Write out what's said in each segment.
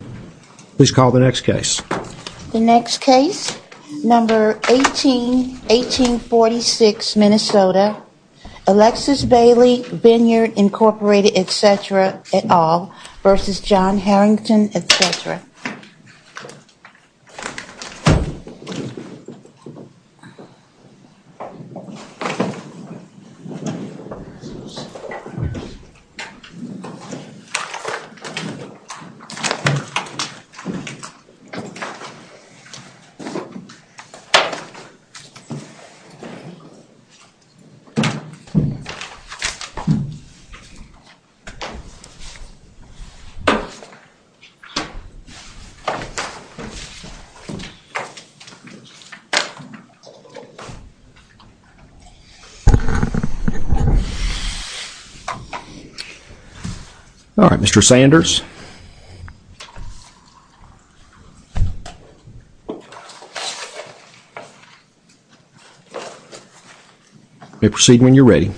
et cetera, et al. v. John Harrington, et cetera. All right, Mr. Sanders. You may proceed when you're ready.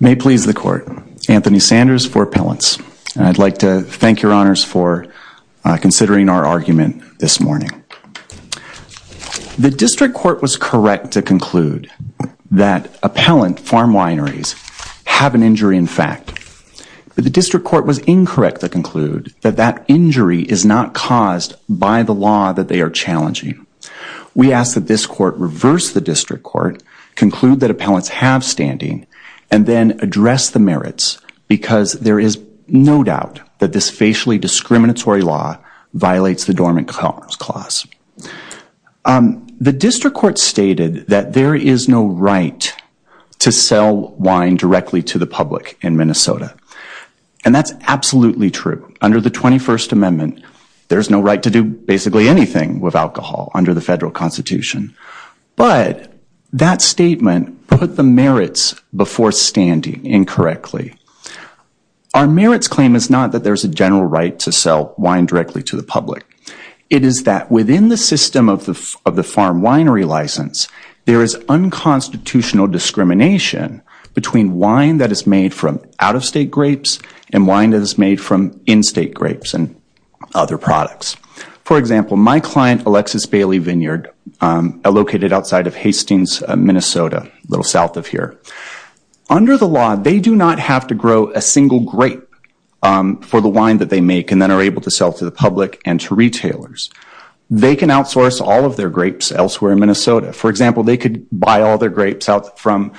May it please the court, Anthony Sanders for appellants. I'd like to thank your honors for considering our argument this morning. The district court was correct to conclude that appellant farm wineries have an injury in fact, but the district court was incorrect to conclude that that injury is not caused by the law that they are challenging. We ask that this court reverse the district court, conclude that appellants have standing, and then address the merits because there is no doubt that this facially discriminatory law violates the dormant commerce clause. The district court stated that there is no right to sell wine directly to the public in Minnesota, and that's absolutely true. Under the 21st Amendment, there's no right to do basically anything with alcohol under the federal constitution, but that statement put the merits before standing incorrectly. Our merits claim is not that there's a general right to sell wine directly to the public. It is that within the system of the farm winery license, there is unconstitutional discrimination between wine that is made from out-of-state grapes and wine that is made from in-state grapes and other products. For example, my client, Alexis Bailey Vineyard, located outside of Hastings, Minnesota, a have to grow a single grape for the wine that they make and then are able to sell to the public and to retailers. They can outsource all of their grapes elsewhere in Minnesota. For example, they could buy all their grapes from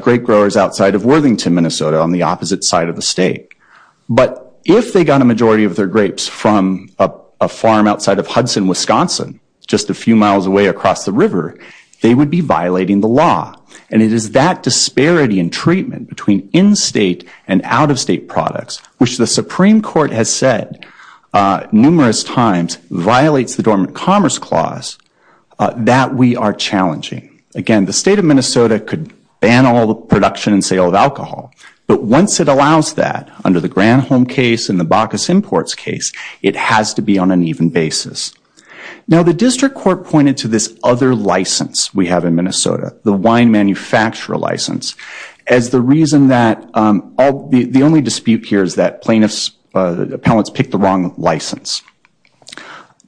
grape growers outside of Worthington, Minnesota, on the opposite side of the state. But if they got a majority of their grapes from a farm outside of Hudson, Wisconsin, just a few miles away across the river, they would be violating the law. And it is that disparity in treatment between in-state and out-of-state products, which the Supreme Court has said numerous times violates the Dormant Commerce Clause, that we are challenging. Again, the state of Minnesota could ban all the production and sale of alcohol, but once it allows that, under the Granholm case and the Bacchus Imports case, it has to be on an even basis. Now, the District Court pointed to this other license we have in Minnesota, the wine manufacturer license, as the reason that the only dispute here is that plaintiffs, the appellants, picked the wrong license.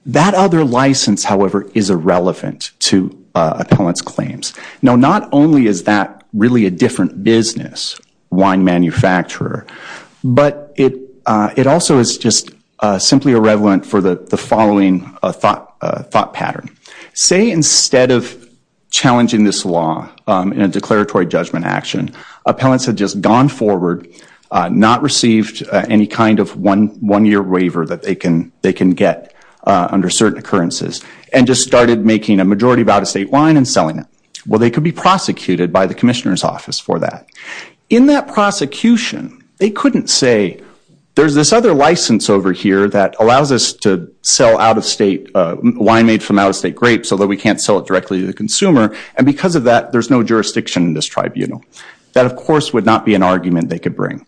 That other license, however, is irrelevant to appellants' claims. Now, not only is that really a different business, wine manufacturer, but it also is just simply irrelevant for the following thought pattern. Say instead of challenging this law in a declaratory judgment action, appellants had just gone forward, not received any kind of one-year waiver that they can get under certain occurrences, and just started making a majority of out-of-state wine and selling it. Well, they could be prosecuted by the commissioner's office for that. In that prosecution, they couldn't say, there's this other license over here that allows us to sell out-of-state wine made from out-of-state grapes, although we can't sell it directly to the consumer, and because of that, there's no jurisdiction in this tribunal. That, of course, would not be an argument they could bring.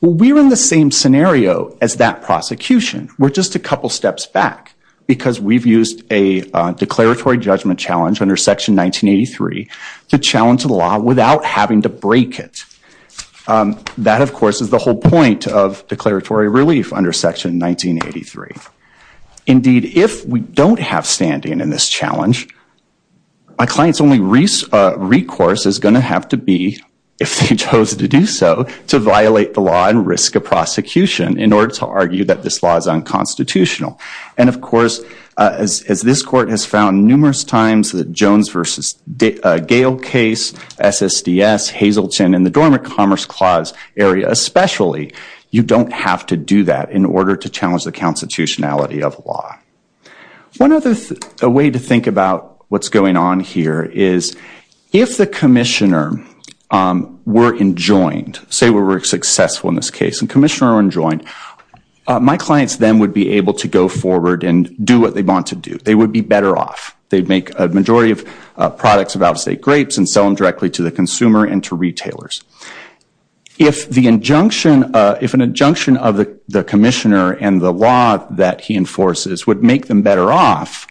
Well, we're in the same scenario as that prosecution. We're just a couple steps back, because we've used a declaratory judgment challenge under Section 1983 to challenge the law without having to break it. That, of course, is the whole point of declaratory relief under Section 1983. Indeed, if we don't have standing in this challenge, a client's only recourse is going to have to be, if they chose to do so, to violate the law and risk a prosecution in order to argue that this law is unconstitutional. Of course, as this Court has found numerous times, the Jones v. Gale case, SSDS, Hazelton, and the Dormant Commerce Clause area especially, you don't have to do that in order to challenge the constitutionality of law. One other way to think about what's going on here is, if the commissioner were enjoined, say we were successful in this case, and the commissioner were enjoined, my clients then would be able to go forward and do what they want to do. They would be better off. They'd make a majority of products of out-of-state grapes and sell them directly to the consumer and to retailers. If the injunction, if an injunction of the commissioner and the law that he enforces would make them better off,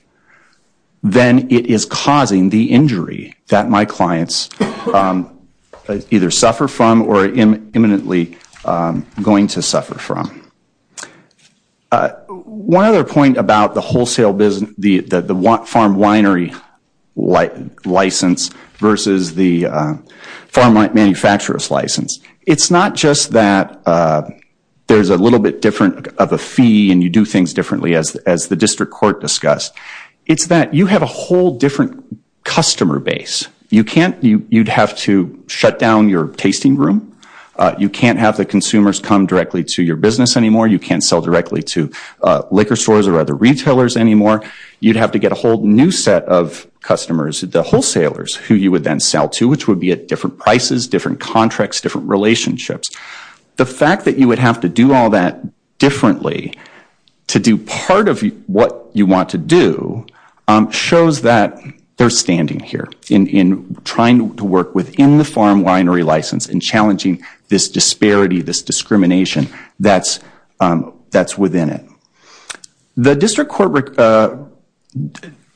then it is causing the injury that my clients either suffer from or are imminently going to suffer from. One other point about the wholesale business, the farm winery license versus the farm manufacturers license. It's not just that there's a little bit different of a fee and you do things differently as the District Court discussed. It's that you have a whole different customer base. You'd have to shut down your tasting room. You can't have the consumers come directly to your business anymore. You can't sell directly to liquor stores or other retailers anymore. You'd have to get a whole new set of customers, the wholesalers, who you would then sell to, which would be at different prices, different contracts, different relationships. The fact that you would have to do all that differently to do part of what you want to do shows that they're standing here in trying to work within the farm winery license and challenging this disparity, this discrimination that's within it. The District Court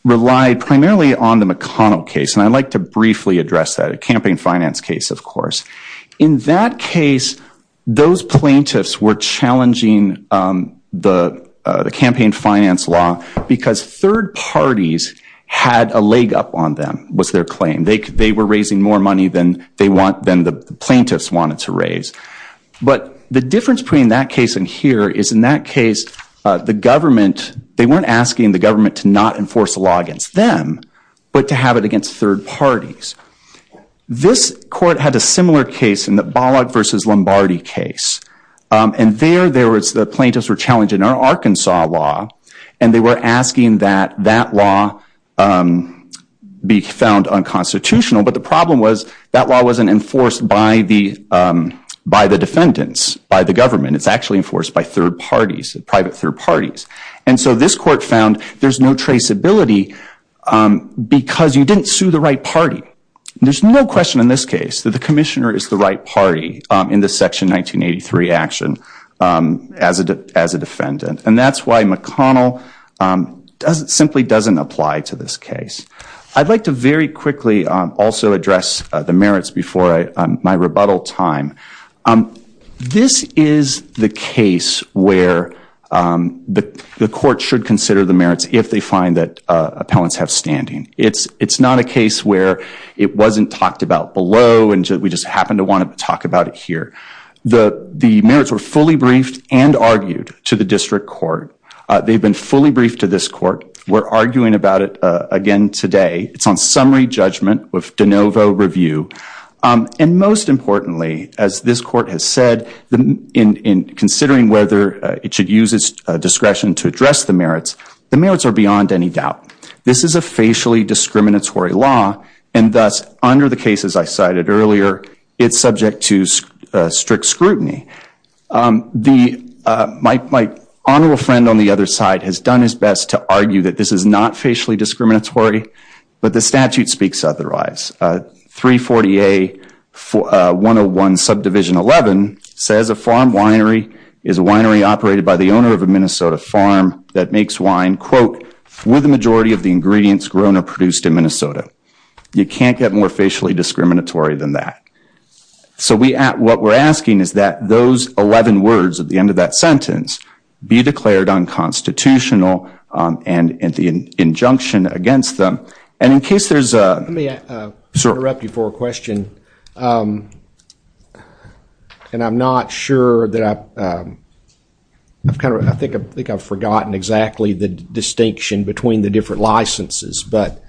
relied primarily on the McConnell case, and I'd like to briefly address that, a campaign finance case, of course. In that case, those plaintiffs were challenging the campaign finance law because third parties had a leg up on them, was their claim. They were raising more money than the plaintiffs wanted to raise. But the difference between that case and here is, in that case, they weren't asking the government to not enforce a law against them, but to have it against third parties. This court had a similar case in the Bollock versus Lombardi case. And there, the plaintiffs were challenging our Arkansas law, and they were asking that that law be found unconstitutional. But the problem was that law wasn't enforced by the defendants, by the government. It's actually enforced by third parties, private third parties. And so this court found there's no traceability because you didn't sue the right party. There's no question in this case that the commissioner is the right party in the Section 1983 action as a defendant. And that's why McConnell simply doesn't apply to this case. I'd like to very quickly also address the merits before my rebuttal time. This is the case where the court should consider the merits if they find that appellants have standing. It's not a case where it wasn't talked about below and we just happen to want to talk about it here. The merits were fully briefed and argued to the district court. They've been fully briefed to this court. We're arguing about it again today. It's on summary judgment with de novo review. And most importantly, as this court has said, in considering whether it should use its discretion to address the merits, the merits are beyond any doubt. This is a facially discriminatory law. And thus, under the cases I cited earlier, it's subject to strict scrutiny. My honorable friend on the other side has done his best to argue that this is not facially discriminatory, but the statute speaks otherwise. 340A 101 subdivision 11 says a farm winery is a winery operated by the owner of a Minnesota farm that makes wine, quote, with a majority of the ingredients grown or produced in Minnesota. You can't get more facially discriminatory than that. So what we're asking is that those 11 words at the end of that sentence be declared unconstitutional and the injunction against them. And in case there's a... And I'm not sure that I've kind of... I think I've forgotten exactly the distinction between the different licenses. But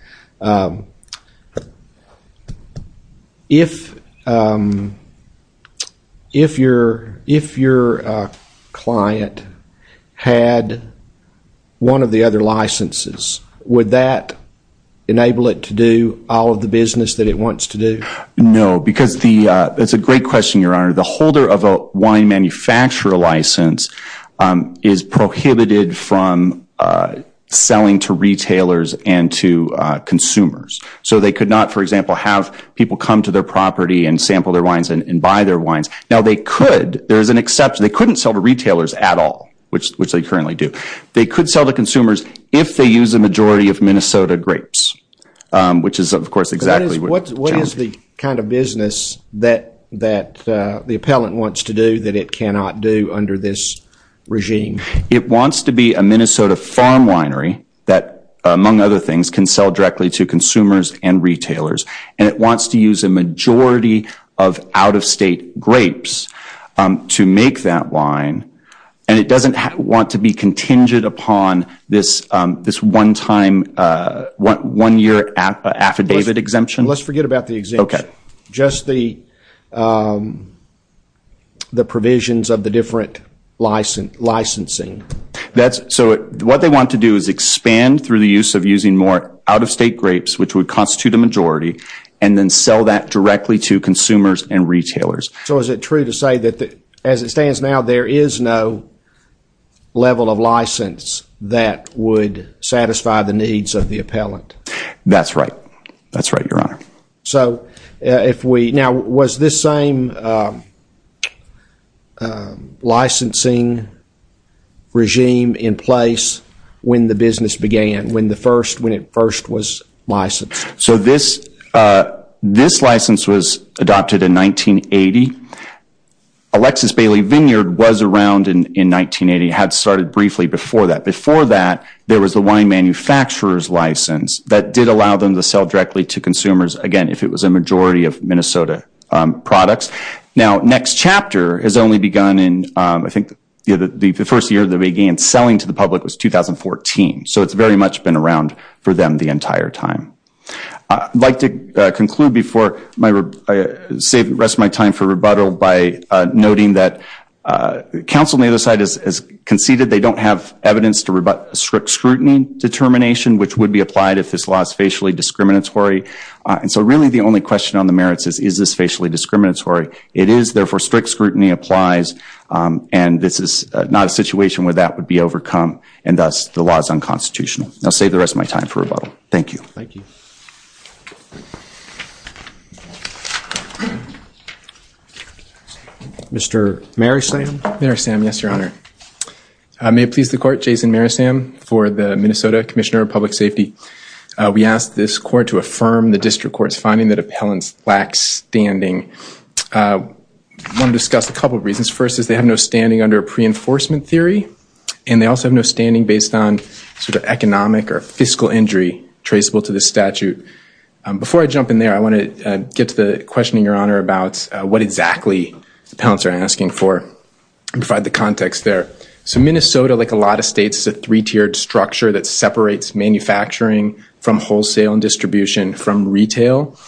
if your client had one of the other licenses, would that enable it to do all of the business that it wants to do? No, because the... That's a great question, Your Honor. The holder of a wine manufacturer license is prohibited from selling to retailers and to consumers. So they could not, for example, have people come to their property and sample their wines and buy their wines. Now, they could. There is an exception. They couldn't sell to retailers at all, which they currently do. They could sell to consumers if they use a majority of Minnesota grapes, which is, of course, exactly... What is the kind of business that the appellant wants to do that it cannot do under this regime? It wants to be a Minnesota farm winery that, among other things, can sell directly to consumers and retailers. And it wants to use a majority of out-of-state grapes to make that wine. And it doesn't want to be contingent upon this one-time, one-year affidavit exemption. Let's forget about the exemption, just the provisions of the different licensing. So what they want to do is expand through the use of using more out-of-state grapes, which would constitute a majority, and then sell that directly to consumers and retailers. So is it true to say that, as it stands now, there is no level of license that would satisfy the needs of the appellant? That's right. That's right, Your Honor. So if we... Now, was this same licensing regime in place when the business began, when it first was licensed? So this license was adopted in 1980. Alexis Bailey Vineyard was around in 1980, had started briefly before that. Before that, there was the wine manufacturer's license that did allow them to sell directly to consumers, again, if it was a majority of Minnesota products. Now, next chapter has only begun in, I think, the first year they began selling to the public was 2014. So it's very much been around for them the entire time. I'd like to conclude before I save the rest of my time for rebuttal by noting that counsel on the other side has conceded they don't have evidence to rebut strict scrutiny determination, which would be applied if this law is facially discriminatory. And so really, the only question on the merits is, is this facially discriminatory? It is. Therefore, strict scrutiny applies. And this is not a situation where that would be overcome. And thus, the law is unconstitutional. I'll save the rest of my time for rebuttal. Thank you. Thank you. Mr. Marysam? Marysam, yes, Your Honor. I may please the court. Jason Marysam for the Minnesota Commissioner of Public Safety. We ask this court to affirm the district court's finding that appellants lack standing. I want to discuss a couple of reasons. First is they have no standing under a pre-enforcement theory. And they also have no standing based on economic or fiscal injury traceable to the statute. Before I jump in there, I want to get to the question, Your Honor, about what exactly the appellants are asking for and provide the context there. So Minnesota, like a lot of states, is a three-tiered structure that separates manufacturing from wholesale and distribution from retail.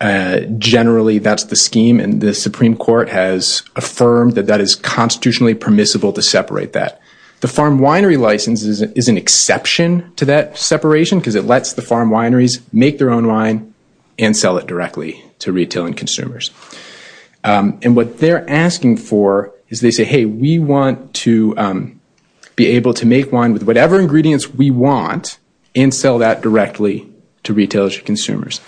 Generally, that's the scheme. And the Supreme Court has affirmed that that is constitutionally permissible to separate that. The farm winery license is an exception to that separation because it lets the farm wineries make their own wine and sell it directly to retail and consumers. And what they're asking for is they say, hey, we want to be able to make wine with whatever ingredients we want and sell that directly to retailers and consumers.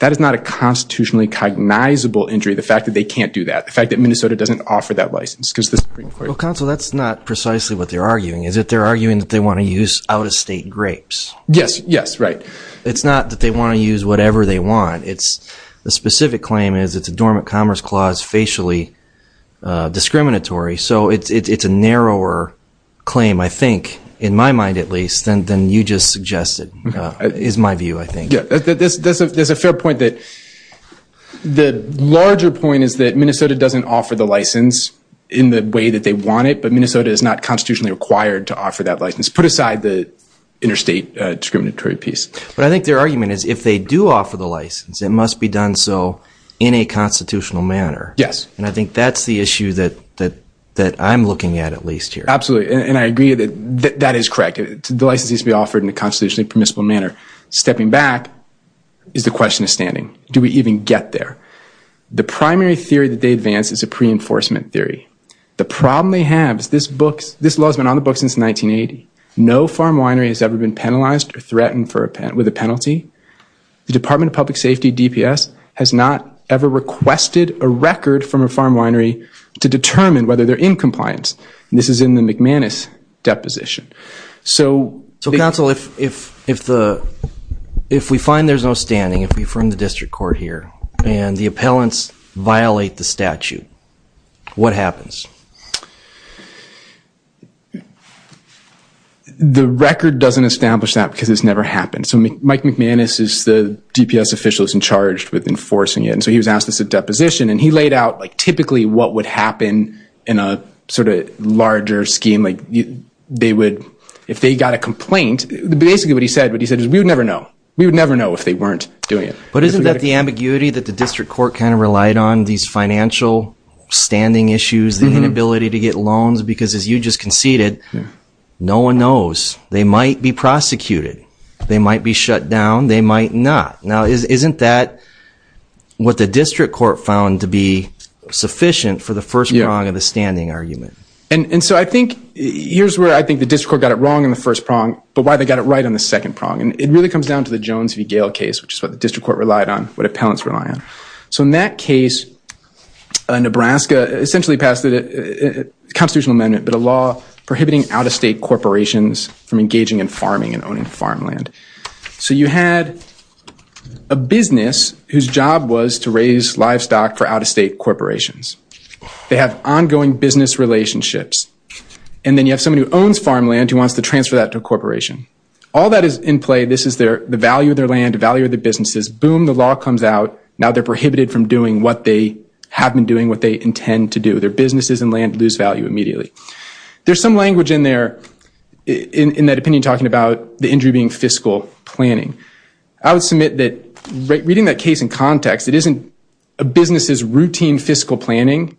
That is not a constitutionally cognizable injury, the fact that they can't do that, the fact that Minnesota doesn't offer that license because the Supreme Court— Well, counsel, that's not precisely what they're arguing. Is it they're arguing that they want to use out-of-state grapes? Yes, yes, right. It's not that they want to use whatever they want. The specific claim is it's a dormant commerce clause, facially discriminatory. So it's a narrower claim, I think, in my mind, at least, than you just suggested, is my view, I think. Yeah, that's a fair point. The larger point is that Minnesota doesn't offer the license in the way that they want it, but Minnesota is not constitutionally required to offer that license. Put aside the interstate discriminatory piece. But I think their argument is if they do offer the license, it must be done so in a constitutional manner. Yes. And I think that's the issue that I'm looking at, at least here. Absolutely, and I agree that that is correct. The license needs to be offered in a constitutionally permissible manner. Stepping back is the question of standing. Do we even get there? The primary theory that they advance is a pre-enforcement theory. The problem they have is this law has been on the books since 1980. No farm winery has ever been penalized or threatened with a penalty. The Department of Public Safety, DPS, has not ever requested a record from a farm winery to determine whether they're in compliance. This is in the McManus deposition. So... So, counsel, if we find there's no standing, if we firm the district court here, and the appellants violate the statute, what happens? The record doesn't establish that because it's never happened. So Mike McManus is the DPS official who's in charge with enforcing it. And so he was asked this at deposition, and he laid out typically what would happen in a sort of larger scheme. If they got a complaint, basically what he said is we would never know. We would never know if they weren't doing it. But isn't that the ambiguity that the district court kind of relied on, these financial standing issues, the inability to get loans? Because as you just conceded, no one knows. They might be prosecuted. They might be shut down. They might not. Now, isn't that what the district court found to be sufficient for the first prong of the standing argument? And so I think here's where I think the district court got it wrong in the first prong, but why they got it right on the second prong. And it really comes down to the Jones v. Gale case, which is what the district court relied on, what appellants rely on. So in that case, Nebraska essentially passed a constitutional amendment, but a law prohibiting out-of-state corporations from engaging in farming and owning farmland. So you had a business whose job was to raise livestock for out-of-state corporations. They have ongoing business relationships. And then you have someone who owns farmland who wants to transfer that to a corporation. All that is in play. This is the value of their land, the value of the businesses. Boom, the law comes out. Now they're prohibited from doing what they have been doing, what they intend to do. Their businesses and land lose value immediately. There's some language in there, in that opinion, talking about the injury being fiscal planning. I would submit that reading that case in context, it isn't a business's routine fiscal planning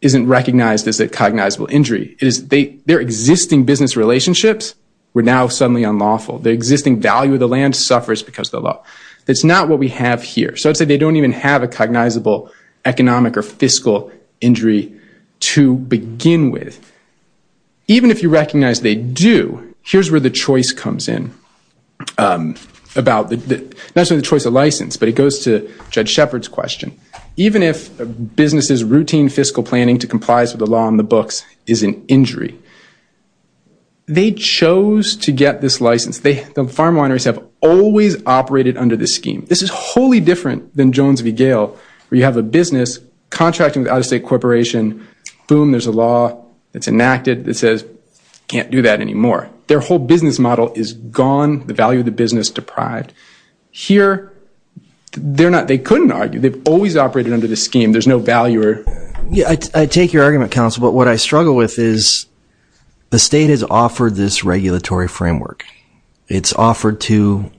isn't recognized as a cognizable injury. It is their existing business relationships were now suddenly unlawful. The existing value of the land suffers because of the law. That's not what we have here. They don't even have a cognizable economic or fiscal injury to begin with. Even if you recognize they do, here's where the choice comes in. Not necessarily the choice of license, but it goes to Judge Shepard's question. Even if a business's routine fiscal planning to complies with the law on the books is an injury, they chose to get this license. The farm wineries have always operated under this scheme. This is wholly different than Jones v. Gale, where you have a business contracting with out-of-state corporation, boom, there's a law that's enacted that says, can't do that anymore. Their whole business model is gone, the value of the business deprived. Here, they couldn't argue. They've always operated under this scheme. There's no value. I take your argument, counsel, but what I struggle with is the state has offered this regulatory framework. It's offered to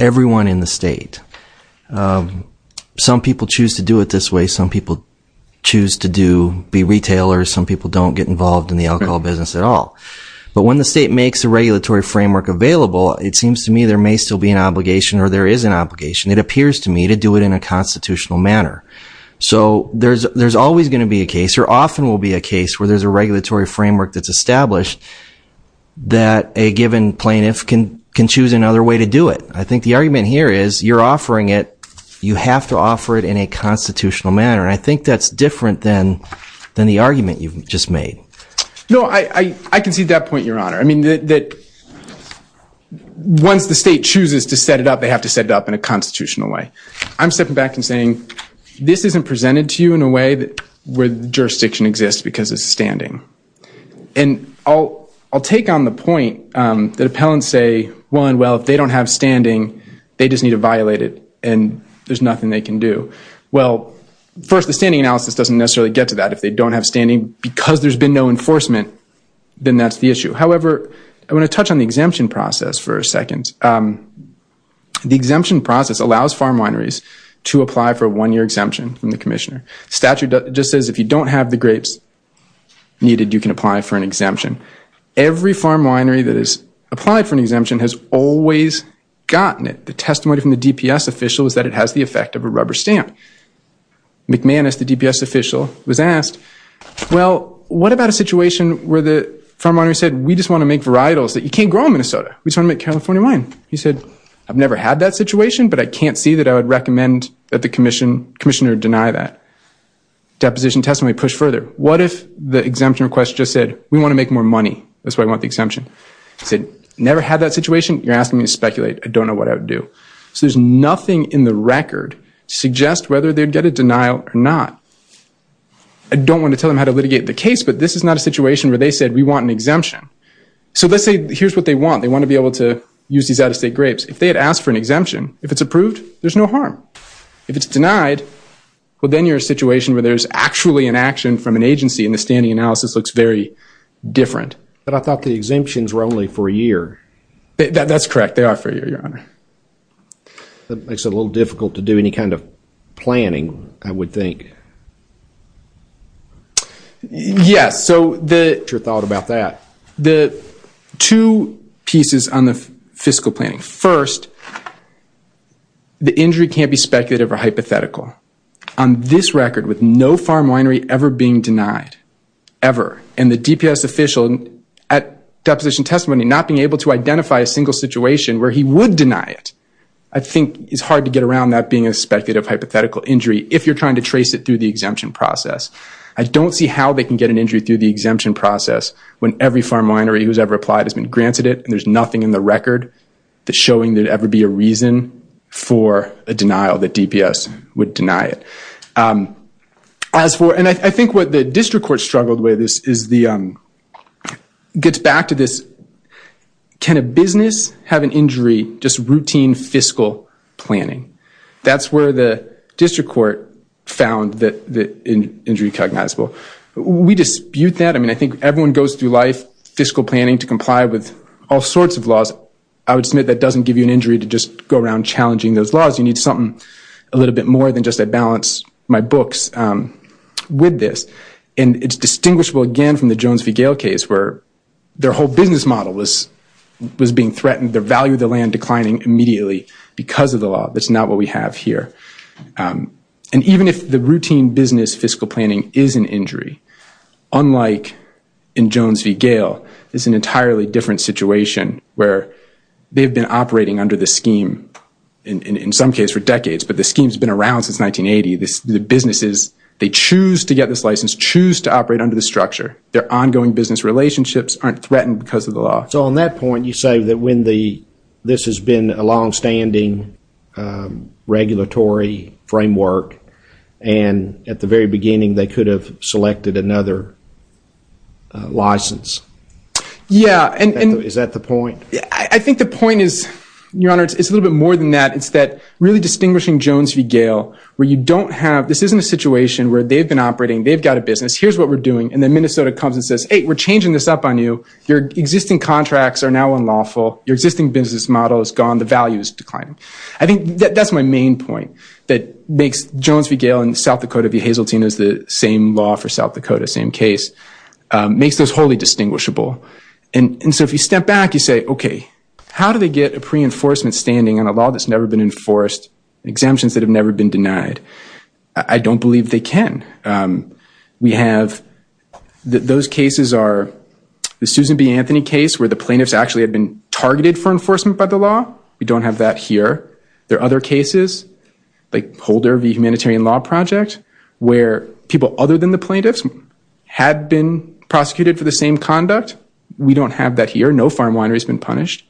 everyone in the state. Some people choose to do it this way. Some people choose to be retailers. Some people don't get involved in the alcohol business at all. But when the state makes a regulatory framework available, it seems to me there may still be an obligation, or there is an obligation, it appears to me, to do it in a constitutional manner. So there's always going to be a case, or often will be a case, where there's a regulatory framework that's established that a given plaintiff can choose another way to do it. I think the argument here is you're offering it. You have to offer it in a constitutional manner. And I think that's different than the argument you've just made. No, I can see that point, Your Honor. I mean, once the state chooses to set it up, they have to set it up in a constitutional way. I'm stepping back and saying, this isn't presented to you in a way where the jurisdiction exists because it's standing. And I'll take on the point that appellants say, well, if they don't have standing, they just need to violate it and there's nothing they can do. Well, first, the standing analysis doesn't necessarily get to that. If they don't have standing because there's been no enforcement, then that's the issue. However, I want to touch on the exemption process for a second. The exemption process allows farm wineries to apply for a one-year exemption from the commissioner. Statute just says if you don't have the grapes needed, you can apply for an exemption. Every farm winery that has applied for an exemption has always gotten it. The testimony from the DPS official is that it has the effect of a rubber stamp. McManus, the DPS official, was asked, well, what about a situation where the farm winery said, we just want to make varietals that you can't grow in Minnesota? We just want to make California wine. He said, I've never had that situation, but I can't see that I would recommend that the commissioner deny that. Deposition testimony pushed further. What if the exemption request just said, we want to make more money. That's why we want the exemption. He said, never had that situation. You're asking me to speculate. I don't know what I would do. So there's nothing in the record to suggest whether they'd get a denial or not. I don't want to tell them how to litigate the case, but this is not a situation where they said, we want an exemption. So let's say here's what they want. They want to be able to use these out-of-state grapes. If they had asked for an exemption, if it's approved, there's no harm. If it's denied, well, then you're in a situation where there's actually an action from an agency, and the standing analysis looks very different. But I thought the exemptions were only for a year. That's correct. They are for a year, Your Honor. That makes it a little difficult to do any kind of planning, I would think. Yes, so the- What's your thought about that? The two pieces on the fiscal planning. First, the injury can't be speculative or hypothetical. On this record, with no farm winery ever being denied, ever, and the DPS official at deposition testimony not being able to identify a single situation where he would deny it, I think it's hard to get around that being a speculative hypothetical injury if you're trying to trace it through the exemption process. I don't see how they can get an injury through the exemption process when every farm winery who's ever applied has been granted it, and there's nothing in the record. That's showing there'd ever be a reason for a denial that DPS would deny it. As for- And I think what the district court struggled with is the- gets back to this, can a business have an injury just routine fiscal planning? That's where the district court found the injury cognizable. We dispute that. I mean, I think everyone goes through life, fiscal planning to comply with all sorts of laws. I would submit that doesn't give you an injury to just go around challenging those laws. You need something a little bit more than just a balance, my books, with this. And it's distinguishable again from the Jones v. Gale case where their whole business model was being threatened, their value of the land declining immediately because of the law. That's not what we have here. And even if the routine business fiscal planning is an injury, unlike in Jones v. Gale, it's an entirely different situation where they've been operating under the scheme in some case for decades, but the scheme's been around since 1980. The businesses, they choose to get this license, choose to operate under the structure. Their ongoing business relationships aren't threatened because of the law. So on that point, you say that when the- this has been a longstanding regulatory framework and at the very beginning, they could have selected another license. Yeah, and- Is that the point? I think the point is, Your Honor, it's a little bit more than that. It's that really distinguishing Jones v. Gale, where you don't have- this isn't a situation where they've been operating, they've got a business. Here's what we're doing. And then Minnesota comes and says, hey, we're changing this up on you. Your existing contracts are now unlawful. Your existing business model is gone. The value is declining. I think that's my main point that makes Jones v. Gale and South Dakota v. Hazeltine as the same law for South Dakota, same case, makes those wholly distinguishable. And so if you step back, you say, OK, how do they get a pre-enforcement standing on a law that's never been enforced, exemptions that have never been denied? I don't believe they can. We have- those cases are the Susan B. Anthony case where the plaintiffs actually had been targeted for enforcement by the law. We don't have that here. There are other cases like Holder v. Humanitarian Law Project where people other than the plaintiffs had been prosecuted for the same conduct. We don't have that here. No farm winery's been punished.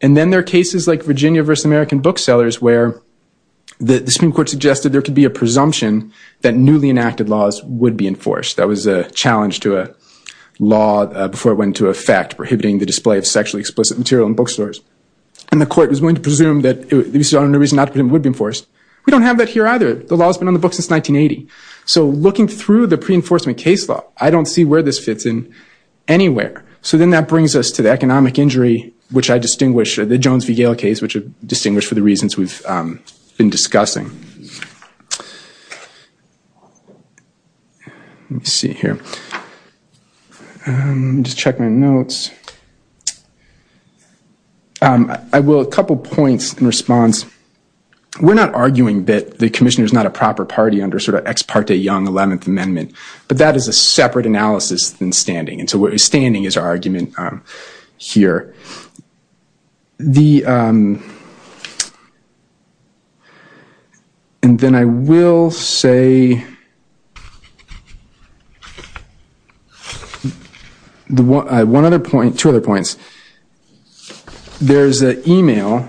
And then there are cases like Virginia v. American Booksellers where the Supreme Court suggested there could be a presumption that newly enacted laws would be enforced. That was a challenge to a law before it went into effect prohibiting the display of sexually explicit material in bookstores. And the court was willing to presume that there was no reason not to put it would be enforced. We don't have that here either. The law's been on the books since 1980. So looking through the pre-enforcement case law, I don't see where this fits in anywhere. So then that brings us to the economic injury, which I distinguish- the Jones v. Gale case, which I distinguish for the reasons we've been discussing. Let me see here. Just check my notes. I will- a couple points in response. We're not arguing that the commissioner's a proper party under sort of Ex parte Young 11th Amendment. But that is a separate analysis than standing. And so standing is our argument here. And then I will say- one other point- two other points. There's an email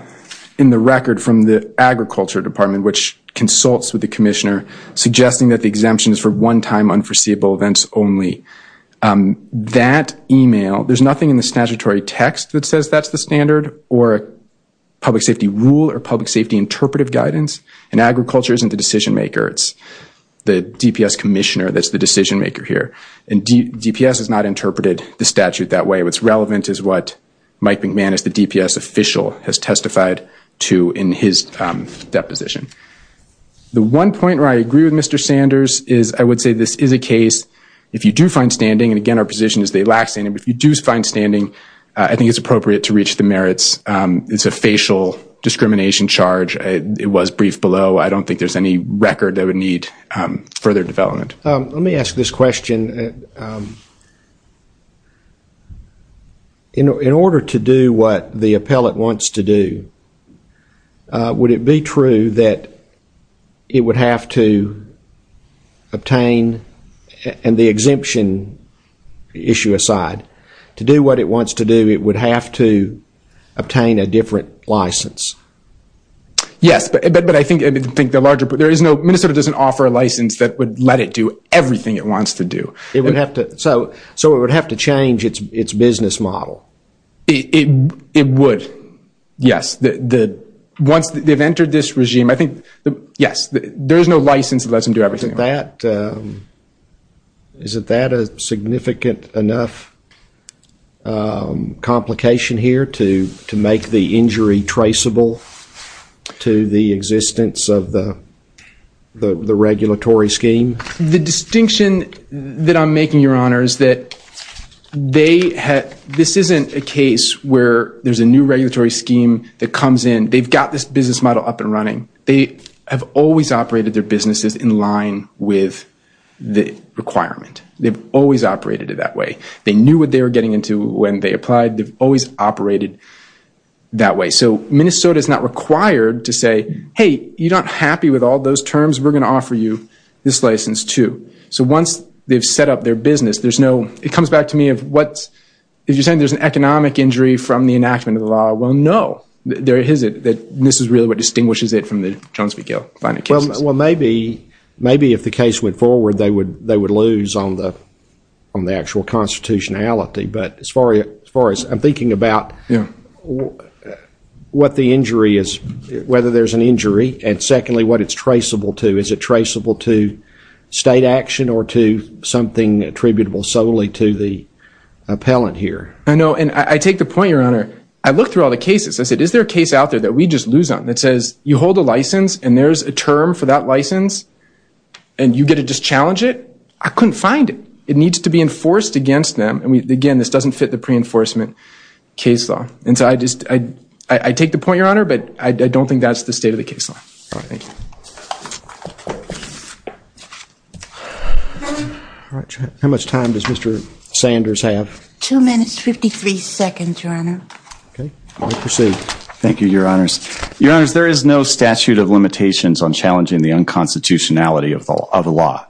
in the record from the Agriculture Department which consults with the commissioner suggesting that the exemption is for one-time unforeseeable events only. That email- there's nothing in the statutory text that says that's the standard or public safety rule or public safety interpretive guidance. And agriculture isn't the decision maker. It's the DPS commissioner that's the decision maker here. And DPS has not interpreted the statute that way. What's relevant is what Mike McManus, the DPS official, has testified to in his deposition. The one point where I agree with Mr. Sanders is- I would say this is a case- if you do find standing- and again our position is they lack standing- if you do find standing, I think it's appropriate to reach the merits. It's a facial discrimination charge. It was briefed below. I don't think there's any record that would need further development. Let me ask this question. In order to do what the appellate wants to do, would it be true that it would have to obtain- and the exemption issue aside- to do what it wants to do, it would have to obtain a different license? Yes, but I think the larger- there is no- Minnesota doesn't offer a license that would let it do everything it wants to do. So it would have to change its business model? It would, yes. Once they've entered this regime, I think- yes, there is no license that lets them do everything. Is that a significant enough complication here to make the injury traceable to the existence of the regulatory scheme? The distinction that I'm making, Your Honor, is that this isn't a case where there's a new regulatory scheme that comes in. They've got this business model up and running. They have always operated their businesses in line with the requirement. They've always operated it that way. They knew what they were getting into when they applied. They've always operated that way. So Minnesota is not required to say, hey, you're not happy with all those terms. We're going to offer you this license, too. So once they've set up their business, there's no- it comes back to me of what- if you're saying there's an economic injury from the enactment of the law, well, no, there isn't. This is really what distinguishes it from the Jones v. Gale finite cases. Well, maybe if the case went forward, they would lose on the actual constitutionality. But as far as I'm thinking about what the injury is, whether there's an injury, and secondly, what it's traceable to, is it traceable to state action or to something attributable solely to the appellant here? I know. And I take the point, Your Honor. I looked through all the cases. I said, is there a case out there that we just lose on that says you hold a license and there's a term for that license and you get to just challenge it? I couldn't find it. It needs to be enforced against them. And so I take the point, Your Honor. But I don't think that's the state of the case law. All right. Thank you. All right. How much time does Mr. Sanders have? Two minutes, 53 seconds, Your Honor. OK. Thank you, Your Honors. Your Honors, there is no statute of limitations on challenging the unconstitutionality of the law.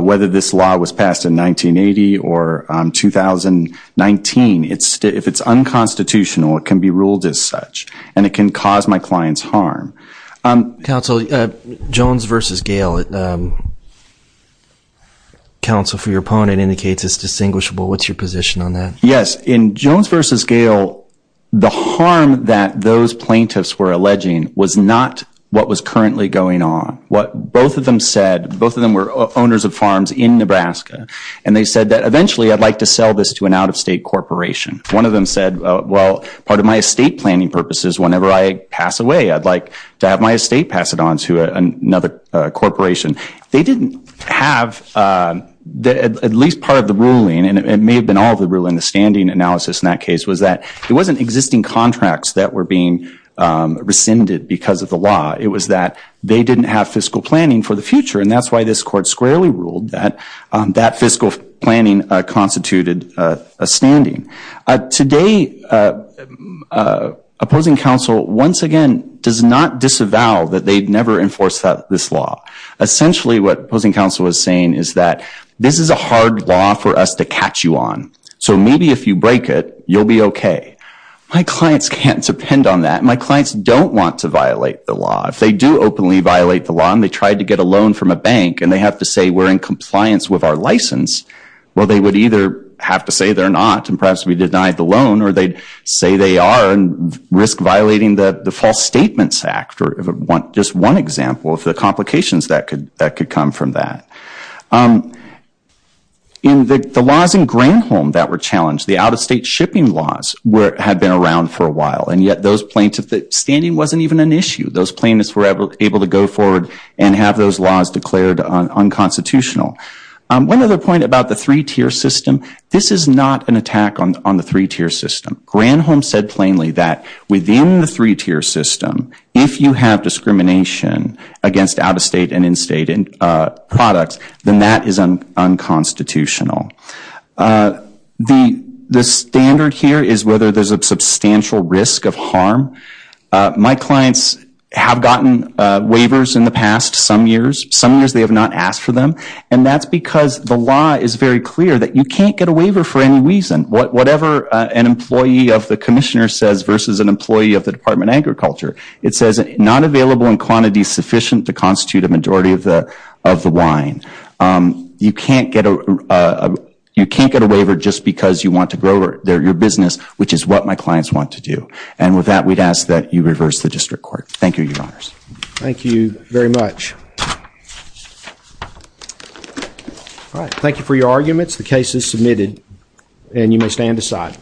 Whether this law was passed in 1980 or 2019, if it's unconstitutional, it can be ruled as such. And it can cause my clients harm. Counsel, Jones versus Gale. Counsel, for your opponent, indicates it's distinguishable. What's your position on that? Yes. In Jones versus Gale, the harm that those plaintiffs were alleging was not what was currently going on. What both of them said, both of them were owners of farms in Nebraska. And they said that eventually, I'd like to sell this to an out-of-state corporation. One of them said, well, part of my estate planning purpose is whenever I pass away, I'd like to have my estate pass it on to another corporation. They didn't have, at least part of the ruling, and it may have been all the ruling, the standing analysis in that case, was that it wasn't existing contracts that were being rescinded because of the law. It was that they didn't have fiscal planning for the future. And that's why this court squarely ruled that that fiscal planning constituted a standing. Today, opposing counsel, once again, does not disavow that they've never enforced this law. Essentially, what opposing counsel is saying is that this is a hard law for us to catch you on. So maybe if you break it, you'll be OK. My clients can't depend on that. My clients don't want to violate the law. If they do openly violate the law, and they tried to get a loan from a bank, and they have to say we're in compliance with our license, well, they would either have to say they're not, and perhaps we denied the loan, or they'd say they are, and risk violating the False Statements Act, or just one example of the complications that could come from that. In the laws in Greenholm that were challenged, the out-of-state shipping laws had been around for a while, and yet those plaintiffs, standing wasn't even an issue. Those plaintiffs were able to go forward and have those laws declared unconstitutional. One other point about the three-tier system, this is not an attack on the three-tier system. Greenholm said plainly that within the three-tier system, if you have discrimination against out-of-state and in-state products, then that is unconstitutional. The standard here is whether there's a substantial risk of harm. My clients have gotten waivers in the past some years. Some years they have not asked for them, and that's because the law is very clear that you can't get a waiver for any reason. Whatever an employee of the commissioner says versus an employee of the Department of Agriculture, it says not available in quantities sufficient to constitute a majority of the wine. You can't get a waiver just because you want to grow your business, which is what my clients want to do. With that, we'd ask that you reverse the district court. Thank you, Your Honors. Thank you very much. All right. Thank you for your arguments. The case is submitted, and you may stand aside.